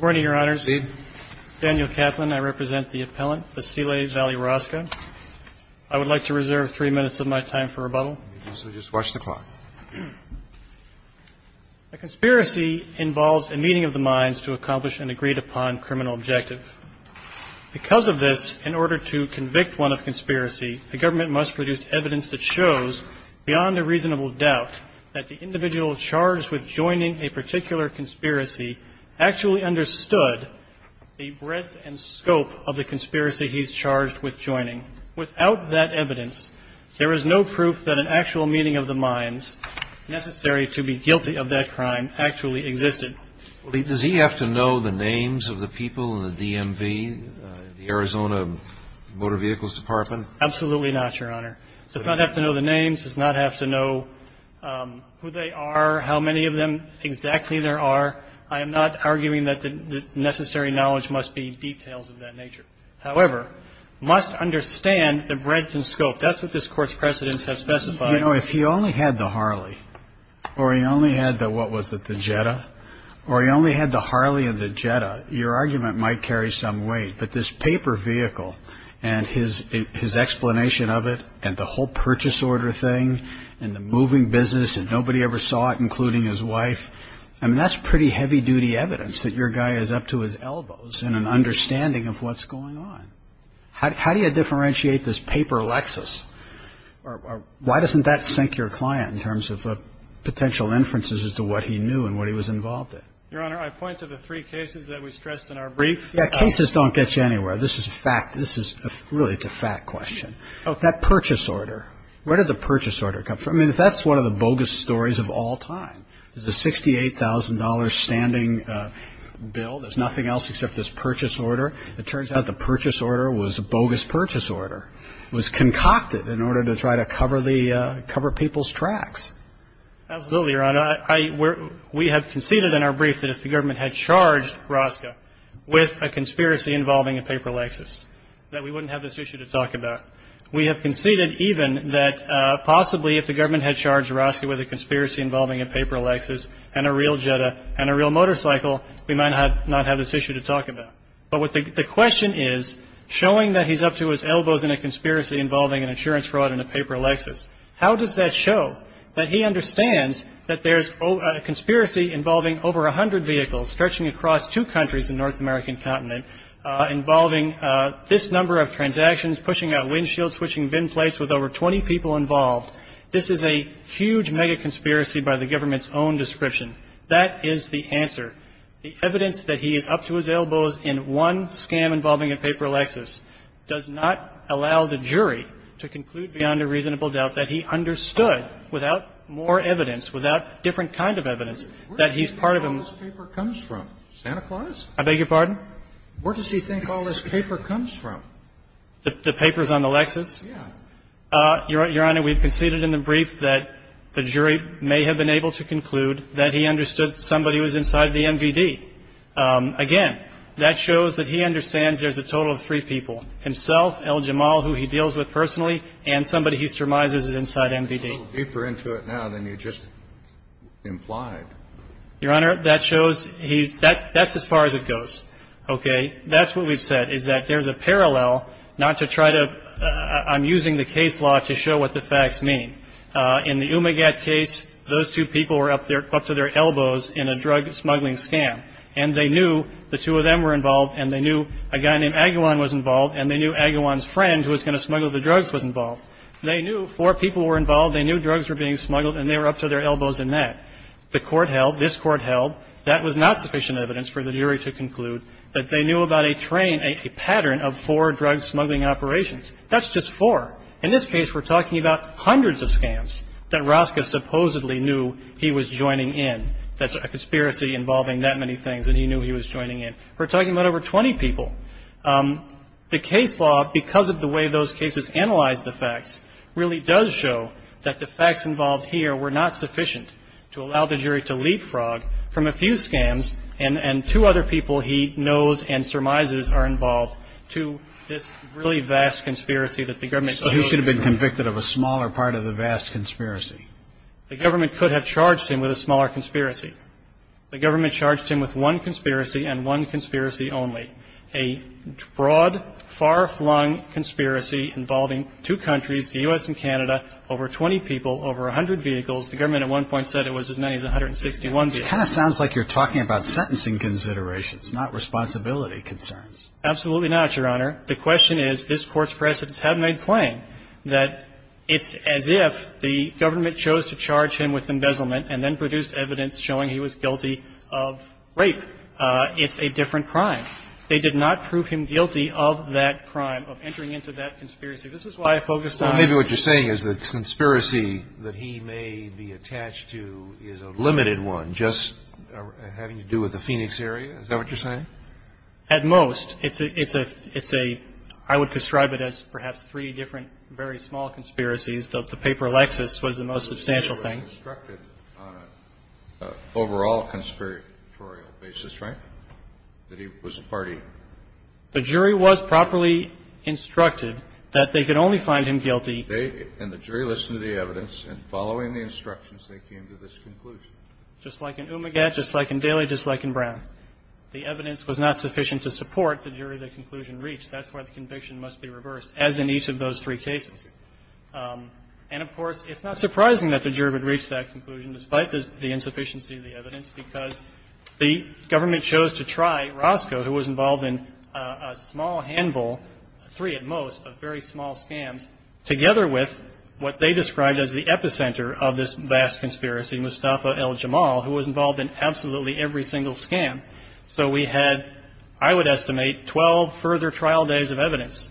I would like to reserve three minutes of my time for rebuttal. So just watch the clock. A conspiracy involves a meeting of the minds to accomplish an agreed-upon criminal objective. Because of this, in order to convict one of conspiracy, the government must produce evidence that shows, beyond a reasonable doubt, that the individual charged with joining actually understood the breadth and scope of the conspiracy he's charged with joining. Without that evidence, there is no proof that an actual meeting of the minds necessary to be guilty of that crime actually existed. But does he have to know the names of the people in the DMV, the Arizona Motor Vehicles Department? Absolutely not, Your Honor. Does not have to know the names, does not have to know who they are, how many of them exactly there are. I am not arguing that the necessary knowledge must be details of that nature. However, must understand the breadth and scope. That's what this Court's precedents have specified. You know, if he only had the Harley, or he only had the what was it, the Jetta, or he only had the Harley and the Jetta, your argument might carry some weight. But this paper vehicle and his explanation of it, and the whole purchase order thing, and the moving business, and nobody ever saw it, including his wife, I mean, that's pretty heavy-duty evidence that your guy is up to his elbows in an understanding of what's going on. How do you differentiate this paper Lexus, or why doesn't that sink your client in terms of potential inferences as to what he knew and what he was involved in? Your Honor, I point to the three cases that we stressed in our brief. Yeah, cases don't get you anywhere. This is a fact. This is really, it's a fact question. That purchase order, where did the purchase order come from? I mean, that's one of the bogus stories of all time. It's a $68,000 standing bill. There's nothing else except this purchase order. It turns out the purchase order was a bogus purchase order. It was concocted in order to try to cover people's tracks. Absolutely, Your Honor. We have conceded in our brief that if the government had charged Rosca with a conspiracy involving a paper Lexus, that we wouldn't have this issue to talk about. We have conceded even that possibly if the government had charged Rosca with a conspiracy involving a paper Lexus and a real Jetta and a real motorcycle, we might not have this issue to talk about. But the question is, showing that he's up to his elbows in a conspiracy involving an insurance fraud and a paper Lexus, how does that show that he understands that there's a conspiracy involving over 100 vehicles stretching across two countries in the North American continent involving this number of transactions, pushing out windshields, switching bin plates with over 20 people involved? This is a huge mega conspiracy by the government's own description. That is the answer. The evidence that he is up to his elbows in one scam involving a paper Lexus does not allow the jury to conclude beyond a reasonable doubt that he understood without more evidence, without different kind of evidence, that he's part of a more Where does he think all this paper comes from? Santa Claus? I beg your pardon? Where does he think all this paper comes from? The papers on the Lexus? Yes. Your Honor, we've conceded in the brief that the jury may have been able to conclude that he understood somebody was inside the MVD. Again, that shows that he understands there's a total of three people, himself, El-Jamal, who he deals with personally, and somebody he surmises is inside MVD. He's a little deeper into it now than you just implied. Your Honor, that shows he's – that's as far as it goes, okay? And that's what we've said, is that there's a parallel not to try to – I'm using the case law to show what the facts mean. In the Umagat case, those two people were up to their elbows in a drug-smuggling scam, and they knew the two of them were involved, and they knew a guy named Agawam was involved, and they knew Agawam's friend, who was going to smuggle the drugs, was involved. They knew four people were involved, they knew drugs were being smuggled, and they held – this Court held that was not sufficient evidence for the jury to conclude that they knew about a train – a pattern of four drug-smuggling operations. That's just four. In this case, we're talking about hundreds of scams that Rosca supposedly knew he was joining in. That's a conspiracy involving that many things, and he knew he was joining in. We're talking about over 20 people. The case law, because of the way those cases analyze the facts, really does show that the facts involved here were not sufficient to allow the jury to leapfrog from a few scams, and two other people he knows and surmises are involved, to this really vast conspiracy that the government chose to do. So he should have been convicted of a smaller part of the vast conspiracy. The government could have charged him with a smaller conspiracy. The government charged him with one conspiracy and one conspiracy only, a broad, far-flung conspiracy involving two countries, the U.S. and Canada, over 20 people, over 100 vehicles. The government at one point said it was as many as 161 vehicles. This kind of sounds like you're talking about sentencing considerations, not responsibility concerns. Absolutely not, Your Honor. The question is, this Court's precedents have made plain that it's as if the government chose to charge him with embezzlement and then produced evidence showing he was guilty of rape. It's a different crime. They did not prove him guilty of that crime, of entering into that conspiracy. This is why I focused on the other one. Well, maybe what you're saying is the conspiracy that he may be attached to is a limited one, just having to do with the Phoenix area. Is that what you're saying? At most. It's a – it's a – I would describe it as perhaps three different, very small conspiracies. The paper Lexis was the most substantial thing. He was instructed on an overall conspiratorial basis, right? That he was a party. The jury was properly instructed that they could only find him guilty. They – and the jury listened to the evidence, and following the instructions, they came to this conclusion. Just like in Umagat, just like in Daly, just like in Brown. The evidence was not sufficient to support the jury that conclusion reached. That's why the conviction must be reversed, as in each of those three cases. And, of course, it's not surprising that the jury would reach that conclusion despite the insufficiency of the evidence, because the government chose to try Roscoe, who was involved in a small handful, three at most, of very small scams, together with what they described as the epicenter of this vast conspiracy, Mustafa el-Jamal, who was involved in absolutely every single scam. So we had, I would estimate, 12 further trial days of evidence.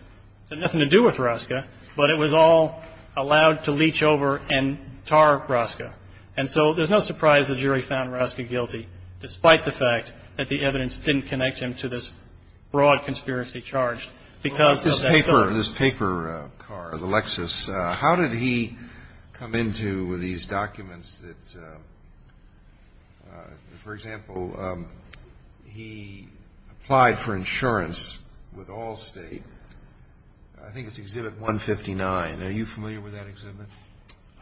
It had nothing to do with Roscoe, but it was all allowed to leech over and tar Roscoe. And so there's no surprise the jury found Roscoe guilty, despite the fact that the evidence didn't connect him to this broad conspiracy charge. Because of that third. This paper car, the Lexus, how did he come into these documents that, for example, he applied for insurance with Allstate, I think it's Exhibit 159. Are you familiar with that exhibit?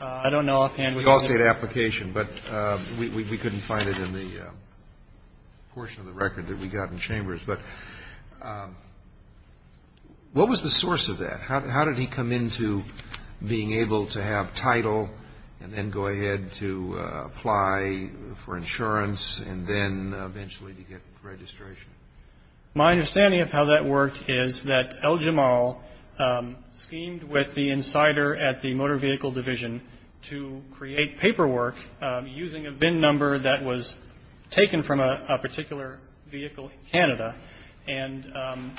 I don't know offhand. It's the Allstate application, but we couldn't find it in the portion of the record that we got in Chambers. But what was the source of that? How did he come into being able to have title, and then go ahead to apply for insurance, and then eventually to get registration? My understanding of how that worked is that el-Jamal schemed with the insider at the Motor Vehicle Division to create paperwork using a VIN number that was taken from a particular vehicle in Canada and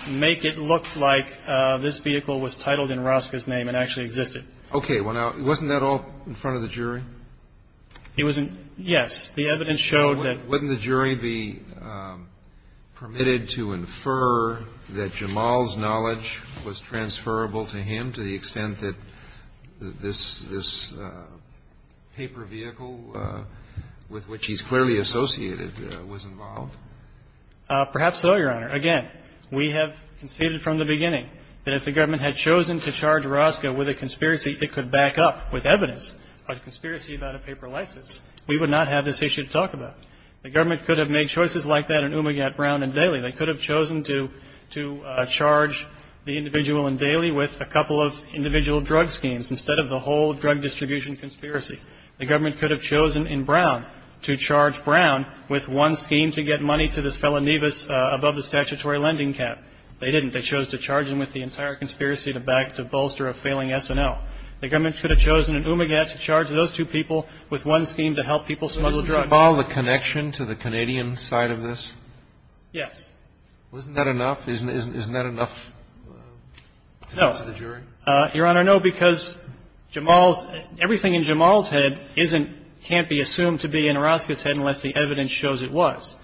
make it look like this vehicle was titled in Roscoe's name and actually existed. Okay. Well, now, wasn't that all in front of the jury? It wasn't, yes. The evidence showed that the jury would be permitted to infer that Jamal's knowledge was transferable to him to the extent that this paper vehicle with which he's clearly associated was involved? Perhaps so, Your Honor. Again, we have conceded from the beginning that if the government had chosen to charge Roscoe with a conspiracy, it could back up with evidence a conspiracy about a paper license. We would not have this issue to talk about. The government could have made choices like that in Umagat, Brown, and Daley. They could have chosen to charge the individual in Daley with a couple of individual drug schemes instead of the whole drug distribution conspiracy. The government could have chosen in Brown to charge Brown with one scheme to get money to this fellow Nevis above the statutory lending cap. They didn't. They chose to charge him with the entire conspiracy to back to bolster a failing SNL. The government could have chosen in Umagat to charge those two people with one scheme to help people smuggle drugs. So does it involve a connection to the Canadian side of this? Yes. Well, isn't that enough? Isn't that enough to convince the jury? No. Your Honor, no, because Jamal's – everything in Jamal's head isn't – can't be assumed to be in Roscoe's head unless the evidence shows it was.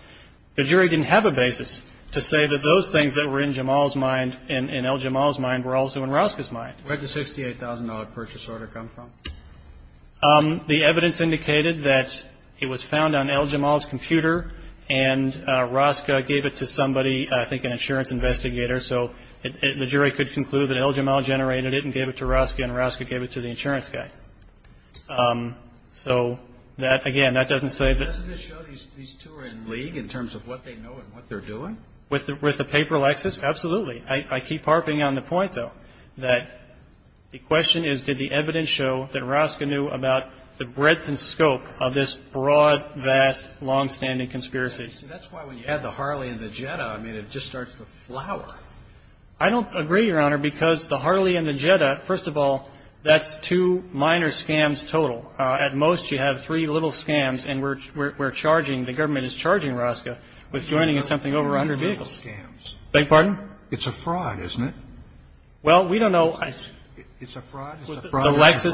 The jury didn't have a basis to say that those things that were in Jamal's mind and El Jamal's mind were also in Roscoe's mind. Where did the $68,000 purchase order come from? The evidence indicated that it was found on El Jamal's computer and Roscoe gave it to somebody, I think an insurance investigator, so the jury could conclude that El Jamal generated it and gave it to Roscoe and Roscoe gave it to the insurance guy. So that – again, that doesn't say that – Doesn't this show these two are in league in terms of what they know and what they're doing? With the paper, Alexis, absolutely. I keep harping on the point, though, that the question is did the evidence show that Roscoe knew about the breadth and scope of this broad, vast, longstanding conspiracy? I don't agree, Your Honor, because the Harley and the Jetta, first of all, that's two minor scams total. At most, you have three little scams, and we're charging, the government is charging Roscoe with joining in something over 100 vehicles. I beg your pardon? It's a fraud, isn't it? Well, we don't know. It's a fraud. It's a fraud. It's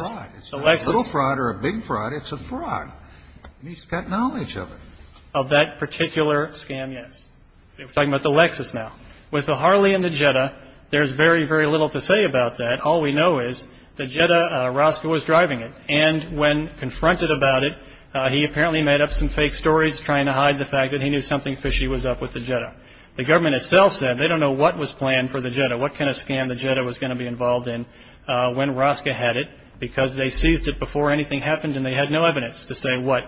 not a little fraud or a big fraud, it's a fraud, and he's got knowledge of it. Of that particular scam, yes. We're talking about the Lexus now. With the Harley and the Jetta, there's very, very little to say about that. All we know is the Jetta, Roscoe was driving it, and when confronted about it, he apparently made up some fake stories trying to hide the fact that he knew something fishy was up with the Jetta. The government itself said they don't know what was planned for the Jetta, what kind of scam the Jetta was going to be involved in when Roscoe had it, because they seized it before anything happened and they had no evidence to say what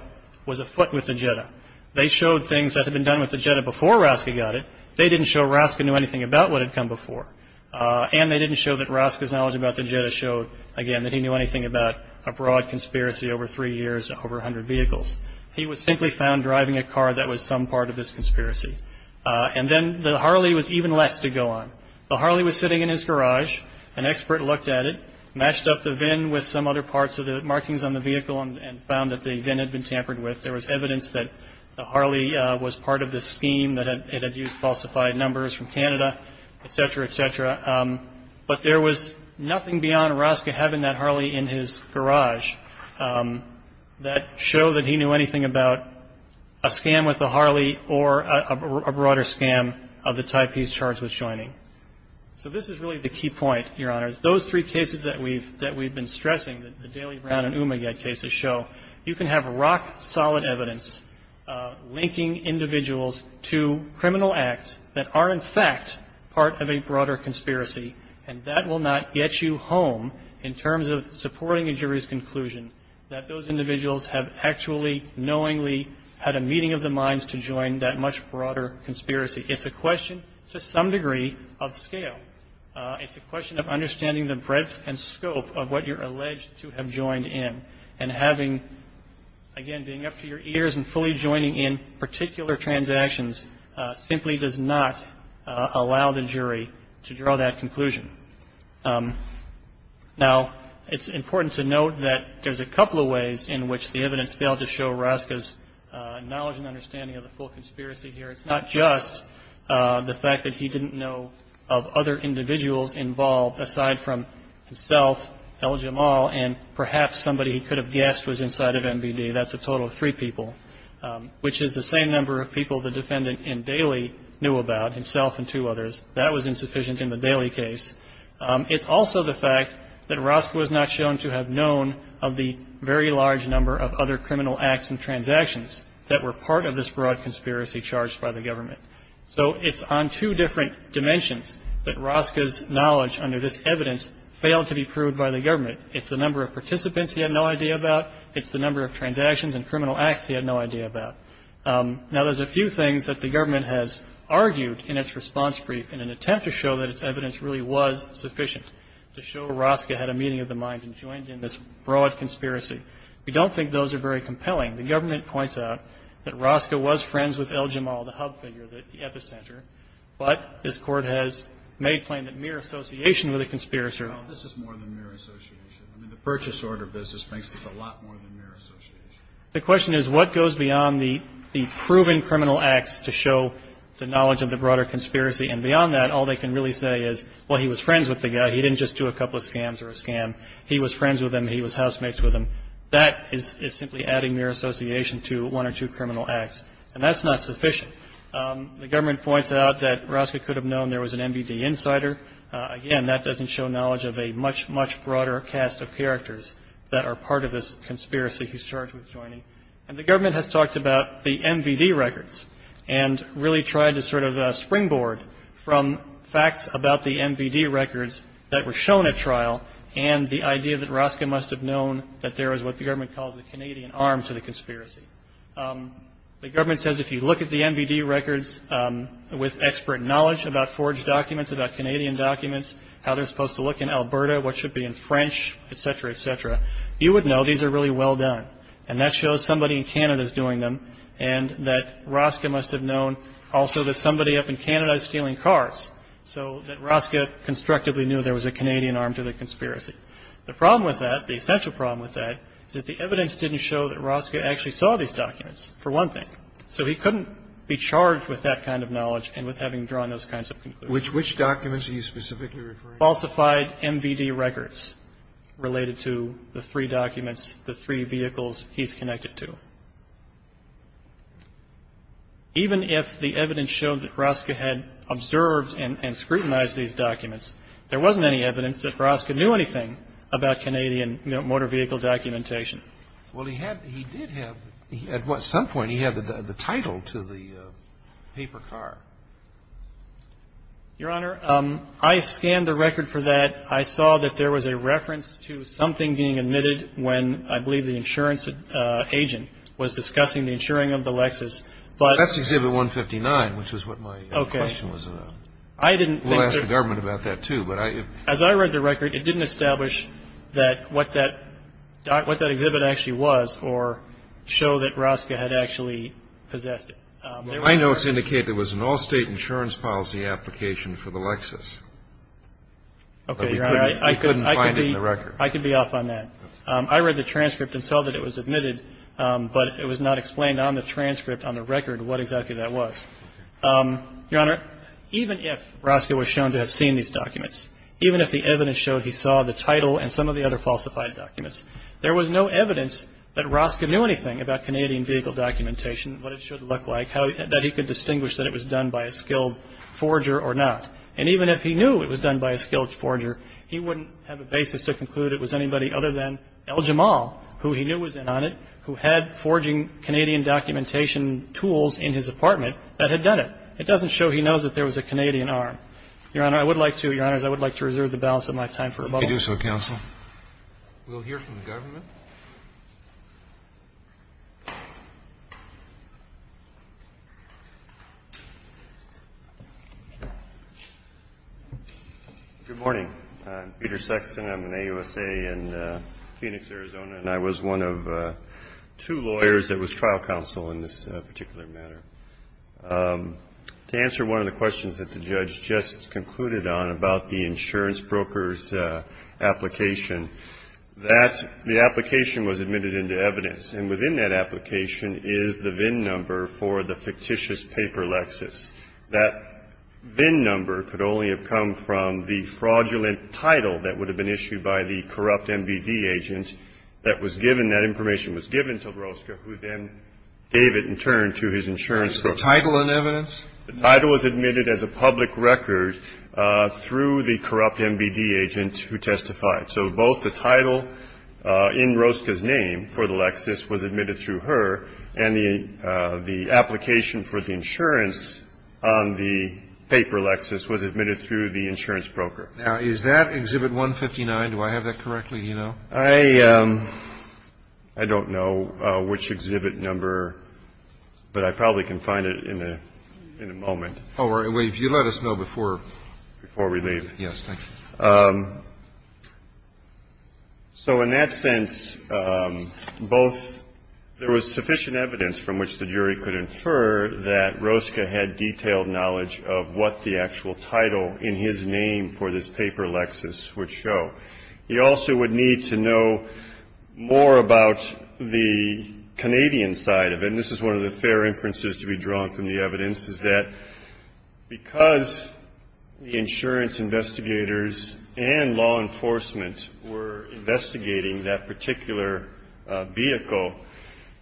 was afoot with the Jetta. They showed things that had been done with the Jetta before Roscoe got it. They didn't show Roscoe knew anything about what had come before. And they didn't show that Roscoe's knowledge about the Jetta showed, again, that he knew anything about a broad conspiracy over three years, over 100 vehicles. He was simply found driving a car that was some part of this conspiracy. And then the Harley was even less to go on. The Harley was sitting in his garage. An expert looked at it, matched up the VIN with some other parts of the markings on the vehicle, and found that the VIN had been tampered with. There was evidence that the Harley was part of this scheme, that it had used falsified numbers from Canada, et cetera, et cetera. But there was nothing beyond Roscoe having that Harley in his garage that showed that he knew anything about a scam with the Harley or a broader scam of the type he's charged with joining. So this is really the key point, Your Honors. Those three cases that we've been stressing, the Daly, Brown, and Umagat cases, show you can have rock-solid evidence linking individuals to criminal acts that are, in fact, part of a broader conspiracy, and that will not get you home in terms of supporting a jury's conclusion that those individuals have actually, knowingly had a meeting of the minds to join that much broader conspiracy. It's a question, to some degree, of scale. It's a question of understanding the breadth and scope of what you're alleged to have joined in. And having, again, being up to your ears and fully joining in particular transactions simply does not allow the jury to draw that conclusion. Now, it's important to note that there's a couple of ways in which the evidence failed to show Roscoe's knowledge and understanding of the full conspiracy here. It's not just the fact that he didn't know of other individuals involved, aside from himself, El-Jamal, and perhaps somebody he could have guessed was inside of MBD. That's a total of three people, which is the same number of people the defendant in Daly knew about, himself and two others. That was insufficient in the Daly case. It's also the fact that Roscoe was not shown to have known of the very large number of other criminal acts and transactions that were part of this broad conspiracy charged by the government. So it's on two different dimensions that Roscoe's knowledge under this evidence failed to be proved by the government. It's the number of participants he had no idea about. It's the number of transactions and criminal acts he had no idea about. Now, there's a few things that the government has argued in its response brief in an attempt to show that its evidence really was sufficient to show Roscoe had a meeting of the minds and joined in this broad conspiracy. We don't think those are very compelling. The government points out that Roscoe was friends with El-Jamal, the hub figure, the epicenter. But this Court has made plain that mere association with a conspiracy order. This is more than mere association. I mean, the purchase order business makes this a lot more than mere association. The question is what goes beyond the proven criminal acts to show the knowledge of the broader conspiracy. And beyond that, all they can really say is, well, he was friends with the guy. He didn't just do a couple of scams or a scam. He was friends with him. He was housemates with him. That is simply adding mere association to one or two criminal acts. And that's not sufficient. The government points out that Roscoe could have known there was an MVD insider. Again, that doesn't show knowledge of a much, much broader cast of characters that are part of this conspiracy he's charged with joining. And the government has talked about the MVD records and really tried to sort of springboard from facts about the MVD records that were shown at trial and the idea that Roscoe must have known that there was what the government calls a Canadian arm to the conspiracy. The government says if you look at the MVD records with expert knowledge about forged documents, about Canadian documents, how they're supposed to look in Alberta, what should be in French, et cetera, et cetera, you would know these are really well done. And that shows somebody in Canada is doing them and that Roscoe must have known also that somebody up in Canada is stealing cars. So that Roscoe constructively knew there was a Canadian arm to the conspiracy. The problem with that, the essential problem with that is that the evidence didn't show that Roscoe actually saw these documents, for one thing. So he couldn't be charged with that kind of knowledge and with having drawn those kinds of conclusions. Roberts. Which documents are you specifically referring to? Falsified MVD records related to the three documents, the three vehicles he's connected to. Even if the evidence showed that Roscoe had observed and scrutinized these documents, there wasn't any evidence that Roscoe knew anything about Canadian motor vehicle documentation. Well, he did have, at some point he had the title to the paper car. Your Honor, I scanned the record for that. I saw that there was a reference to something being admitted when I believe the insurance agent was discussing the insuring of the Lexus. That's exhibit 159, which is what my question was about. I didn't think that as I read the record, it didn't establish that what that what that exhibit actually was or show that Roscoe had actually possessed it. I know it's indicated it was an all-state insurance policy application for the Lexus. Okay, Your Honor, I could be off on that. I read the transcript and saw that it was admitted, but it was not explained on the transcript, on the record, what exactly that was. Your Honor, even if Roscoe was shown to have seen these documents, even if the evidence showed he saw the title and some of the other falsified documents, there was no evidence that Roscoe knew anything about Canadian vehicle documentation, what it should look like, that he could distinguish that it was done by a skilled forger or not. And even if he knew it was done by a skilled forger, he wouldn't have a basis to conclude it was anybody other than Al-Jamal, who he knew was in on it, who had forging Canadian documentation tools in his apartment that had done it. It doesn't show he knows that there was a Canadian arm. Your Honor, I would like to, Your Honors, I would like to reserve the balance of my time for rebuttal. Roberts. Roberts. We'll hear from the government. Peter Sexton. I'm an AUSA in Phoenix, Arizona, and I was one of two lawyers that was trial counsel in this particular matter. To answer one of the questions that the judge just concluded on about the insurance broker's application, that the application was admitted into evidence, and within that application is the VIN number for the fictitious paper lexis. That VIN number could only have come from the fraudulent title that would have been issued by the corrupt MVD agent that was given. That information was given to Rosca, who then gave it in turn to his insurance broker. The title in evidence? The title was admitted as a public record through the corrupt MVD agent who testified. So both the title in Rosca's name for the lexis was admitted through her, and the application for the insurance on the paper lexis was admitted through the insurance broker. Now, is that Exhibit 159? Do I have that correctly? Do you know? I don't know which exhibit number, but I probably can find it in a moment. Oh, right. Well, if you let us know before we leave. Yes, thank you. So in that sense, both there was sufficient evidence from which the jury could infer that Rosca had detailed knowledge of what the actual title in his name for this paper lexis would show. He also would need to know more about the Canadian side of it, and this is one of the fair inferences to be drawn from the evidence, is that because the insurance investigators and law enforcement were investigating that particular vehicle,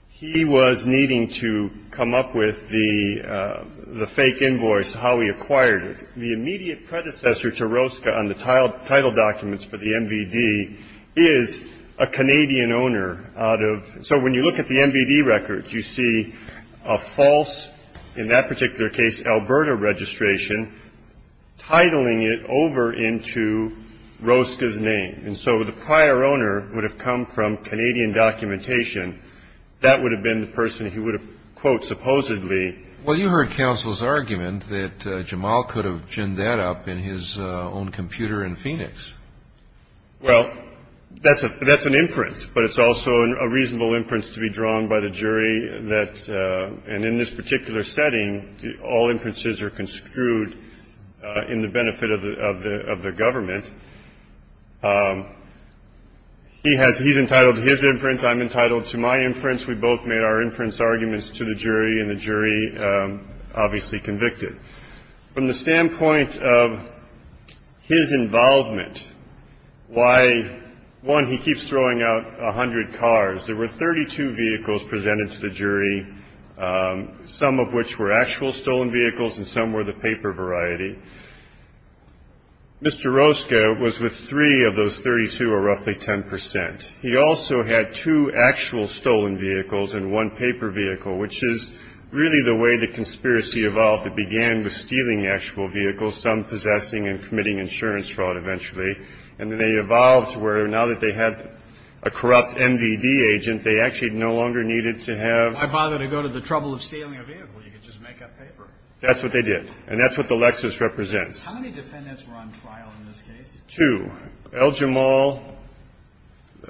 he was needing to come up with the fake invoice, how he acquired it. The immediate predecessor to Rosca on the title documents for the MVD is a Canadian owner out of so when you look at the MVD records, you see a false, in that particular case, Alberta registration titling it over into Rosca's name. And so the prior owner would have come from Canadian documentation. That would have been the person who would have, quote, supposedly. Well, you heard counsel's argument that Jamal could have ginned that up in his own computer in Phoenix. Well, that's an inference, but it's also a reasonable inference to be drawn by the jury that, and in this particular setting, all inferences are construed in the benefit of the government. He has he's entitled to his inference. I'm entitled to my inference. We both made our inference arguments to the jury, and the jury obviously convicted. From the standpoint of his involvement, why, one, he keeps throwing out a hundred cars. There were 32 vehicles presented to the jury, some of which were actual stolen vehicles and some were the paper variety. Mr. Rosca was with three of those 32, or roughly 10 percent. He also had two actual stolen vehicles and one paper vehicle, which is really the way the conspiracy evolved. It began with stealing the actual vehicle, some possessing and committing insurance fraud eventually. And then they evolved to where now that they had a corrupt MVD agent, they actually no longer needed to have. Kennedy. Why bother to go to the trouble of stealing a vehicle? You could just make up paper. That's what they did. And that's what the Lexus represents. How many defendants were on trial in this case? Two. El-Jamal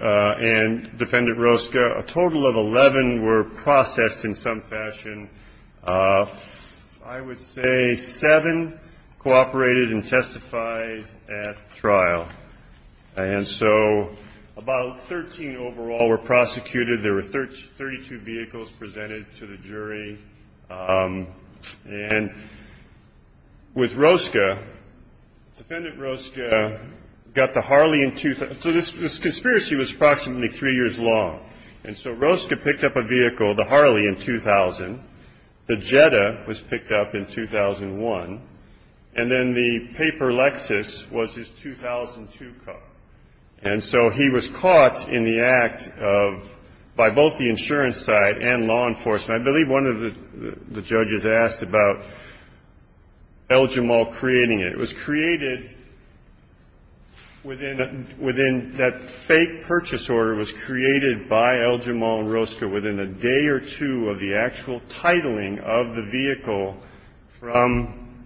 and Defendant Rosca, a total of 11 were processed in some fashion. I would say seven cooperated and testified at trial. And so about 13 overall were prosecuted. There were 32 vehicles presented to the jury. And with Rosca, Defendant Rosca got the Harley in 2000. So this conspiracy was approximately three years long. And so Rosca picked up a vehicle, the Harley, in 2000. The Jetta was picked up in 2001. And then the paper Lexus was his 2002 car. And so he was caught in the act of, by both the insurance side and law enforcement. I believe one of the judges asked about El-Jamal creating it. It was created within that fake purchase order was created by El-Jamal and Rosca within a day or two of the actual titling of the vehicle from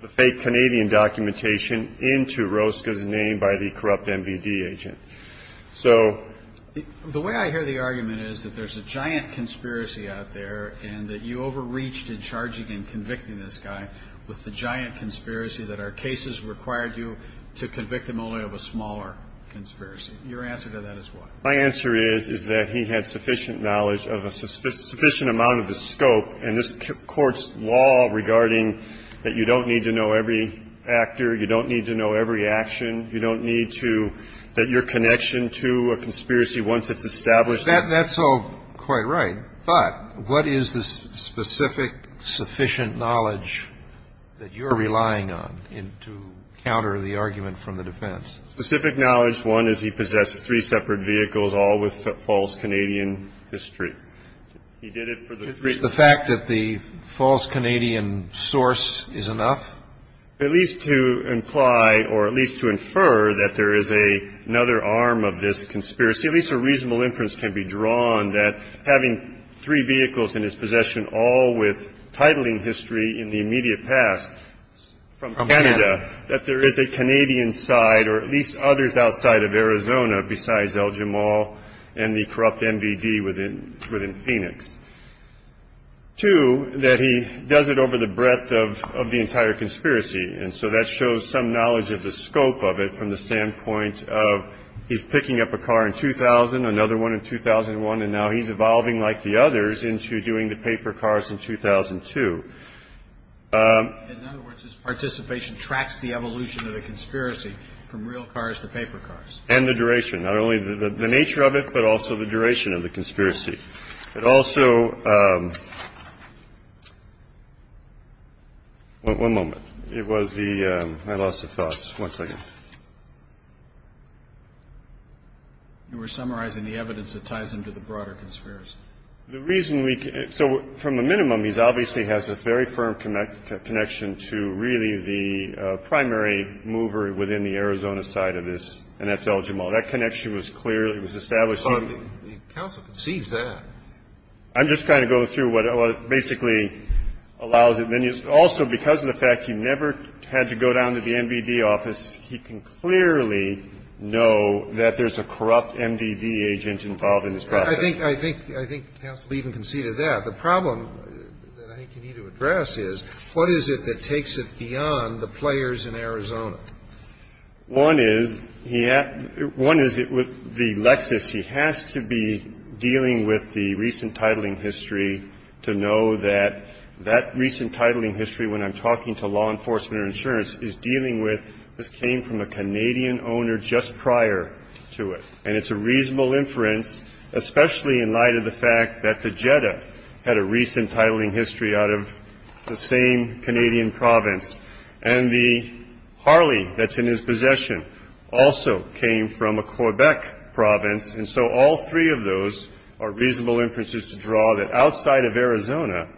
the fake Canadian documentation into Rosca's name by the corrupt MVD agent. So the way I hear the argument is that there's a giant conspiracy out there and that you overreached in charging and convicting this guy with the giant conspiracy that our cases required you to convict him only of a smaller conspiracy. Your answer to that is what? My answer is, is that he had sufficient knowledge of a sufficient amount of the scope in this Court's law regarding that you don't need to know every actor, you don't need to know every action, you don't need to, that your connection to a conspiracy, once it's established. That's all quite right. But what is the specific sufficient knowledge that you're relying on to counter the argument from the defense? Specific knowledge, one, is he possessed three separate vehicles, all with false Canadian history. He did it for the three. Is the fact that the false Canadian source is enough? At least to imply or at least to infer that there is another arm of this conspiracy, at least a reasonable inference can be drawn that having three vehicles in his possession all with titling history in the immediate past from Canada, that there is a Canadian side or at least others outside of Arizona besides El Jamal and the corrupt MVD within Phoenix. Two, that he does it over the breadth of the entire conspiracy. And so that shows some knowledge of the scope of it from the standpoint of he's picking up a car in 2000, another one in 2001, and now he's evolving, like the others, into doing the paper cars in 2002. In other words, his participation tracks the evolution of the conspiracy from real cars to paper cars. And the duration. Not only the nature of it, but also the duration of the conspiracy. But also, one moment. It was the, I lost the thoughts. One second. You were summarizing the evidence that ties into the broader conspiracy. The reason we, so from a minimum, he obviously has a very firm connection to really the primary mover within the Arizona side of this, and that's El Jamal. That connection was clearly, was established. But the counsel concedes that. I'm just trying to go through what basically allows it. Also, because of the fact he never had to go down to the MVD office, he can clearly know that there's a corrupt MVD agent involved in this process. I think counsel even conceded that. The problem that I think you need to address is what is it that takes it beyond the players in Arizona? One is, one is the Lexus. He has to be dealing with the recent titling history to know that that recent titling history, when I'm talking to law enforcement or insurance, is dealing with this came from a Canadian owner just prior to it. And it's a reasonable inference, especially in light of the fact that the Jetta had a recent titling history out of the same Canadian province. And the Harley that's in his possession also came from a Quebec province. And so all three of those are reasonable inferences to draw that outside of Arizona,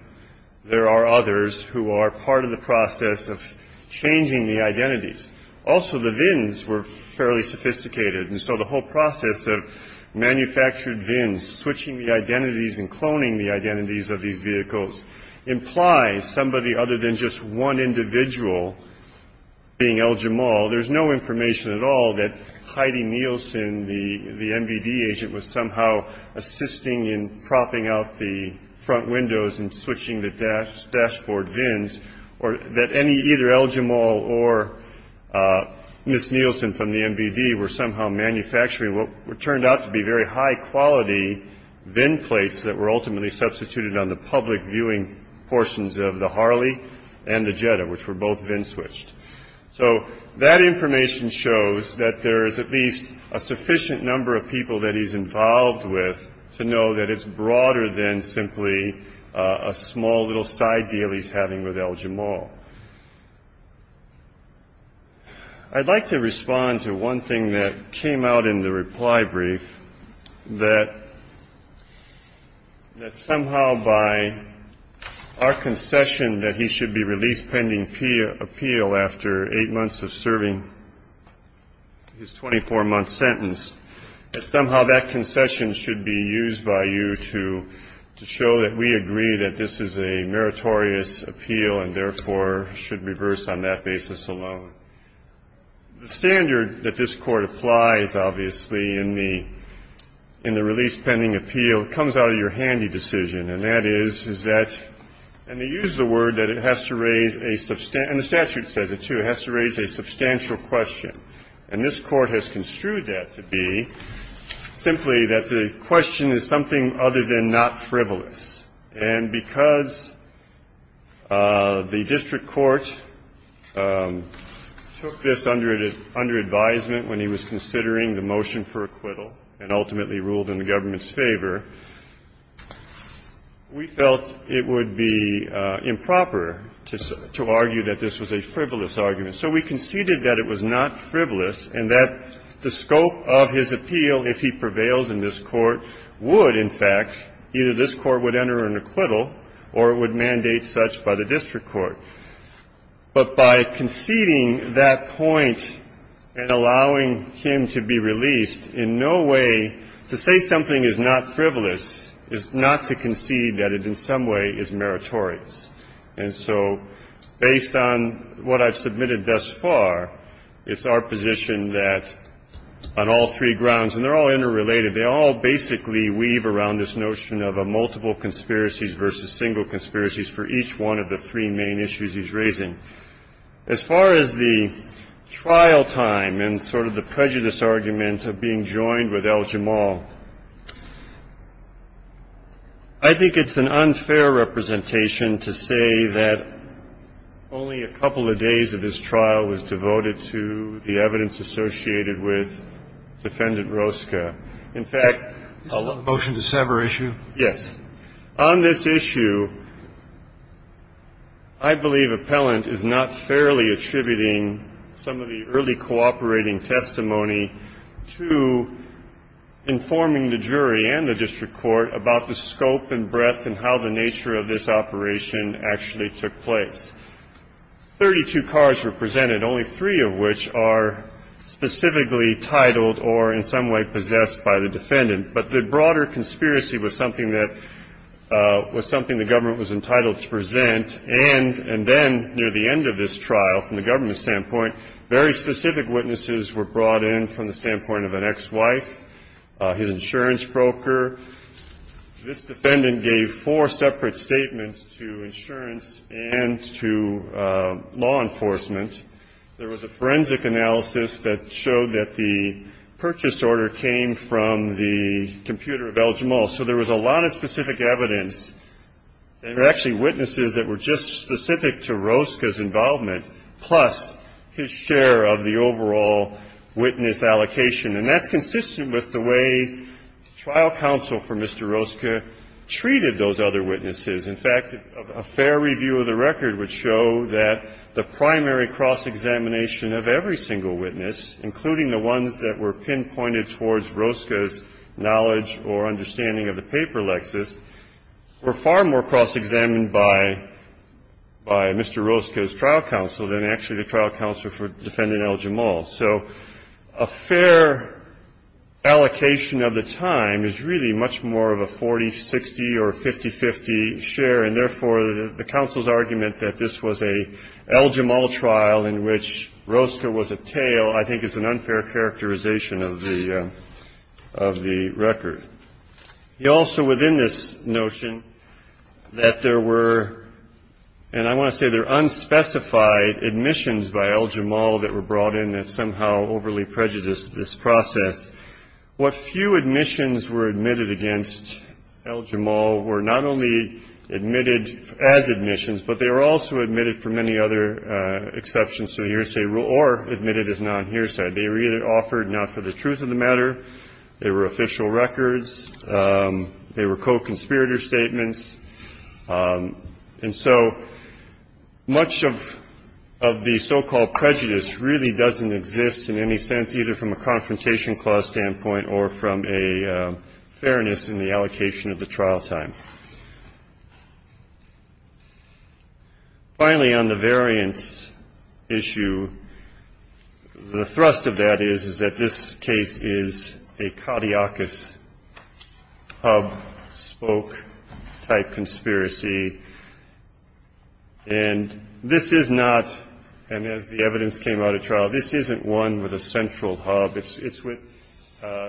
there are others who are part of the process of changing the identities. Also, the VINs were fairly sophisticated. And so the whole process of manufactured VINs, switching the identities and one individual being El Jamal, there's no information at all that Heidi Nielsen, the MVD agent, was somehow assisting in propping out the front windows and switching the dashboard VINs. Or that either El Jamal or Ms. Nielsen from the MVD were somehow manufacturing what turned out to be very high quality VIN plates that were ultimately switched. So that information shows that there is at least a sufficient number of people that he's involved with to know that it's broader than simply a small little side deal he's having with El Jamal. I'd like to respond to one thing that came out in the reply brief, that somehow by our concession that he should be released pending appeal after eight months of serving his 24-month sentence, that somehow that concession should be used by you to show that we agree that this is a meritorious appeal and therefore should reverse on that basis alone. The standard that this Court applies, obviously, in the release pending appeal comes out of your handy decision. And that is, is that, and they use the word that it has to raise a, and the statute says it too, it has to raise a substantial question. And this Court has construed that to be simply that the question is something other than not frivolous. And because the district court took this under advisement when he was considering the motion for acquittal and ultimately ruled in the government's favor, we felt it would be improper to argue that this was a frivolous argument. So we conceded that it was not frivolous and that the scope of his appeal, if he prevails in this Court, would, in fact, either this Court would enter an acquittal or it would mandate such by the district court. But by conceding that point and allowing him to be released, in no way to say something is not frivolous is not to concede that it in some way is meritorious. And so based on what I've submitted thus far, it's our position that on all three grounds, and they're all interrelated, they all basically weave around this notion of a multiple conspiracies versus single conspiracies for each one of the three main issues he's raising. As far as the trial time and sort of the prejudice argument of being joined with Al-Jamal, I think it's an unfair representation to say that only a couple of days of his trial was devoted to the evidence associated with Defendant Rosca. In fact — This is a motion to sever issue? Yes. On this issue, I believe Appellant is not fairly attributing some of the early cooperating testimony to informing the jury and the district court about the scope and breadth and how the nature of this operation actually took place. There were 32 cases in the case, 32 cars were presented, only three of which are specifically titled or in some way possessed by the defendant. But the broader conspiracy was something that — was something the government was entitled to present. And then near the end of this trial, from the government's standpoint, very specific witnesses were brought in from the standpoint of an ex-wife, his insurance company, to law enforcement. There was a forensic analysis that showed that the purchase order came from the computer of El Jamal. So there was a lot of specific evidence. There were actually witnesses that were just specific to Rosca's involvement, plus his share of the overall witness allocation. And that's consistent with the way trial counsel for Mr. Rosca treated those other witnesses. In fact, a fair review of the record would show that the primary cross-examination of every single witness, including the ones that were pinpointed towards Rosca's knowledge or understanding of the paper lexis, were far more cross-examined by Mr. Rosca's trial counsel than actually the trial counsel for defendant El Jamal. So a fair allocation of the time is really much more of a 40-60 or 50-50, short share, and therefore the counsel's argument that this was an El Jamal trial in which Rosca was a tail, I think, is an unfair characterization of the record. He also, within this notion, that there were, and I want to say there are unspecified admissions by El Jamal that were brought in that somehow overly prejudiced this admission, but they were also admitted for many other exceptions to a hearsay rule or admitted as non-hearsay. They were either offered not for the truth of the matter, they were official records, they were co-conspirator statements. And so much of the so-called prejudice really doesn't exist in any sense, either from a confrontation clause standpoint or from a fairness in the allocation of the trial time. Finally, on the variance issue, the thrust of that is, is that this case is a caudiacus hub-spoke-type conspiracy, and this is not, and as the evidence came out at trial, this isn't one with a central hub. It's with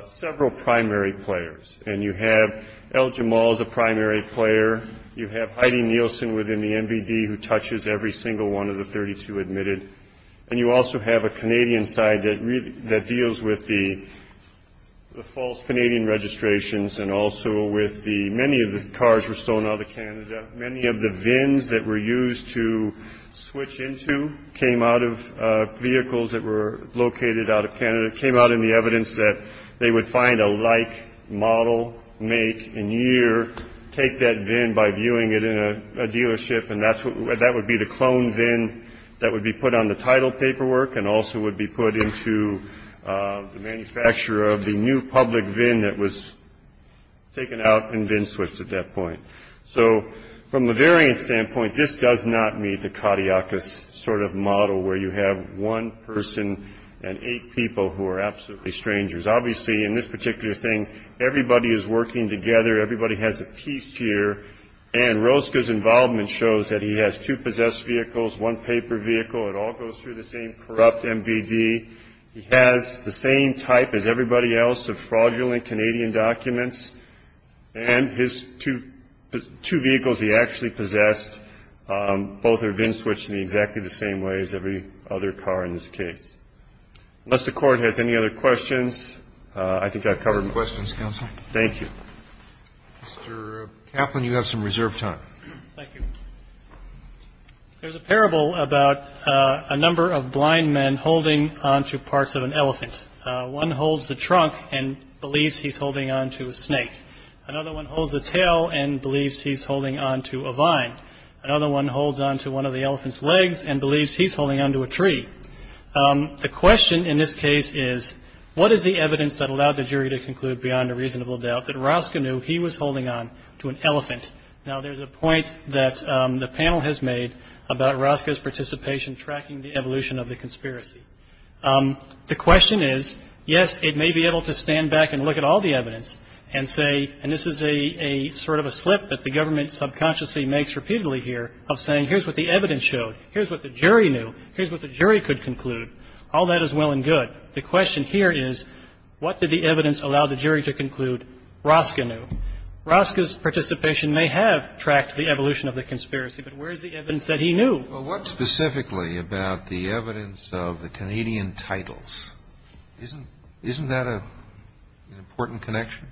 several primary players, and you have El Jamal as a primary player, you have Heidi Nielsen within the NVD who touches every single one of the 32 admitted, and you also have a Canadian side that deals with the false Canadian registrations and also with the, many of the cars were stolen out of Canada. Many of the VINs that were used to switch into came out of vehicles that were located out of Canada, came out in the evidence that they would find a like, model, make, and year, take that VIN by viewing it in a dealership, and that would be the cloned VIN that would be put on the title paperwork and also would be put into the manufacturer of the new public VIN that was taken out and VIN switched at that point. So from a variance standpoint, this does not meet the caudiacus sort of model where you have one person and eight people who are absolutely strangers. Obviously, in this particular thing, everybody is working together. Everybody has a piece here, and Roska's involvement shows that he has two possessed vehicles, one paper vehicle, it all goes through the same corrupt NVD. He has the same type as everybody else of fraudulent Canadian documents, and his two vehicles he actually possessed, both are VIN switched in exactly the same way as every other car in this case. Unless the court has any other questions, I think I've covered them all. Questions, counsel? Thank you. Mr. Kaplan, you have some reserved time. Thank you. There's a parable about a number of blind men holding onto parts of an elephant. One holds the trunk and believes he's holding onto a snake. Another one holds the tail and believes he's holding onto a vine. Another one holds onto one of the elephant's legs and believes he's holding onto a tree. The question in this case is, what is the evidence that allowed the jury to conclude beyond a reasonable doubt that Roska knew he was holding onto an elephant? Now, there's a point that the panel has made about Roska's participation tracking the evolution of the conspiracy. The question is, yes, it may be able to stand back and look at all the evidence and say, and this is a sort of a slip that the government subconsciously makes repeatedly here, of saying, here's what the evidence showed, here's what the jury knew, here's what the jury could conclude. All that is well and good. The question here is, what did the evidence allow the jury to conclude Roska knew? Roska's participation may have tracked the evolution of the conspiracy, but where is the evidence that he knew? Well, what specifically about the evidence of the Canadian titles? Isn't that an important connection?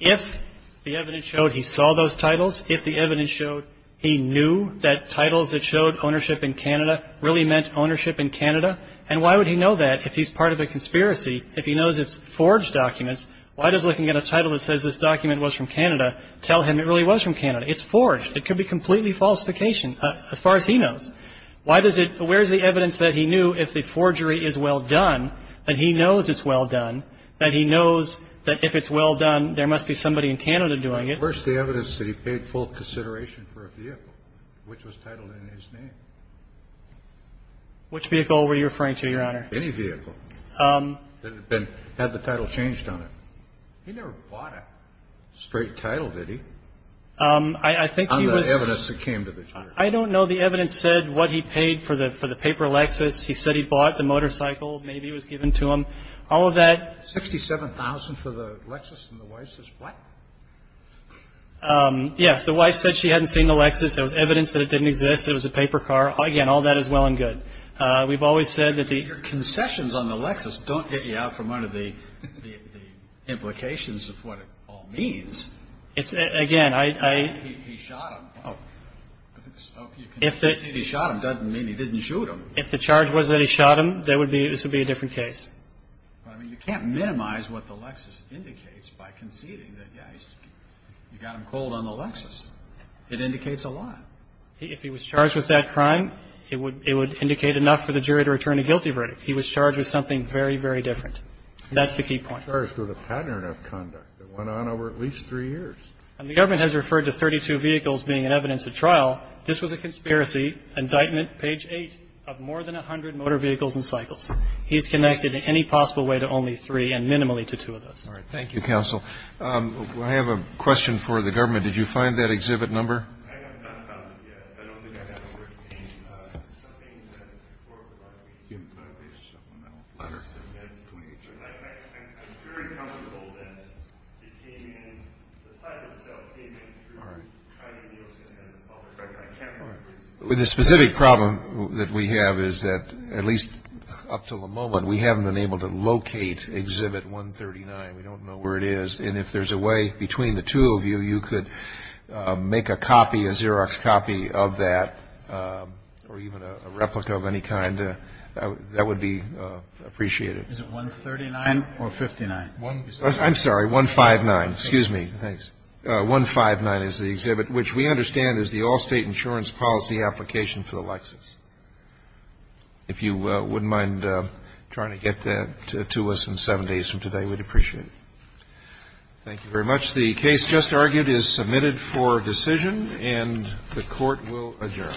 If the evidence showed he saw those titles, if the evidence showed he knew that titles that showed ownership in Canada really meant ownership in Canada, and why would he know that if he's part of a conspiracy, if he knows it's forged documents? Why does looking at a title that says this document was from Canada tell him it really was from Canada, it's forged, it could be completely falsification as far as he knows. Why does it, where's the evidence that he knew if the forgery is well done, that he knows it's well done, that he knows that if it's well done, there must be somebody in Canada doing it? Where's the evidence that he paid full consideration for a vehicle, which was titled in his name? Which vehicle were you referring to, Your Honor? Any vehicle that had the title changed on it. He never bought a straight title, did he? I think he was. On the evidence that came to the jury. I don't know. The evidence said what he paid for the paper Lexus, he said he bought the motorcycle, maybe it was given to him, all of that. Sixty-seven thousand for the Lexus, and the wife says, what? Yes, the wife said she hadn't seen the Lexus. There was evidence that it didn't exist. It was a paper car. Again, all that is well and good. We've always said that the. Your concessions on the Lexus don't get you out from under the implications of what it all means. It's, again, I. He shot him. Oh, if he shot him, doesn't mean he didn't shoot him. If the charge was that he shot him, there would be, this would be a different case. I mean, you can't minimize what the Lexus indicates by conceding that, yes, you got him cold on the Lexus. It indicates a lot. If he was charged with that crime, it would, it would indicate enough for the jury to return a guilty verdict. He was charged with something very, very different. That's the key point. Charged with a pattern of conduct that went on over at least three years. And the government has referred to 32 vehicles being an evidence at trial. This was a conspiracy indictment. Page eight of more than 100 motor vehicles and cycles. He's connected in any possible way to only three and minimally to two of those. All right. Thank you, counsel. I have a question for the government. Did you find that exhibit number? I have not found it yet. I don't think I know where it came from. Something that the court required me to do, but there's some amount of letter that we had to submit. I'm very comfortable that it came in, the file itself came in through the OCS public records. I can't remember. The specific problem that we have is that at least up to the moment, we haven't been able to locate exhibit 139. We don't know where it is. And if there's a way between the two of you, you could make a copy, a Xerox copy of that or even a replica of any kind, that would be appreciated. Is it 139 or 59? I'm sorry, 159. Excuse me. Thanks. 159 is the exhibit, which we understand is the all-state insurance policy application for the Lexus. If you wouldn't mind trying to get that to us in seven days from today, we'd appreciate it. Thank you very much. The case just argued is submitted for decision, and the Court will adjourn.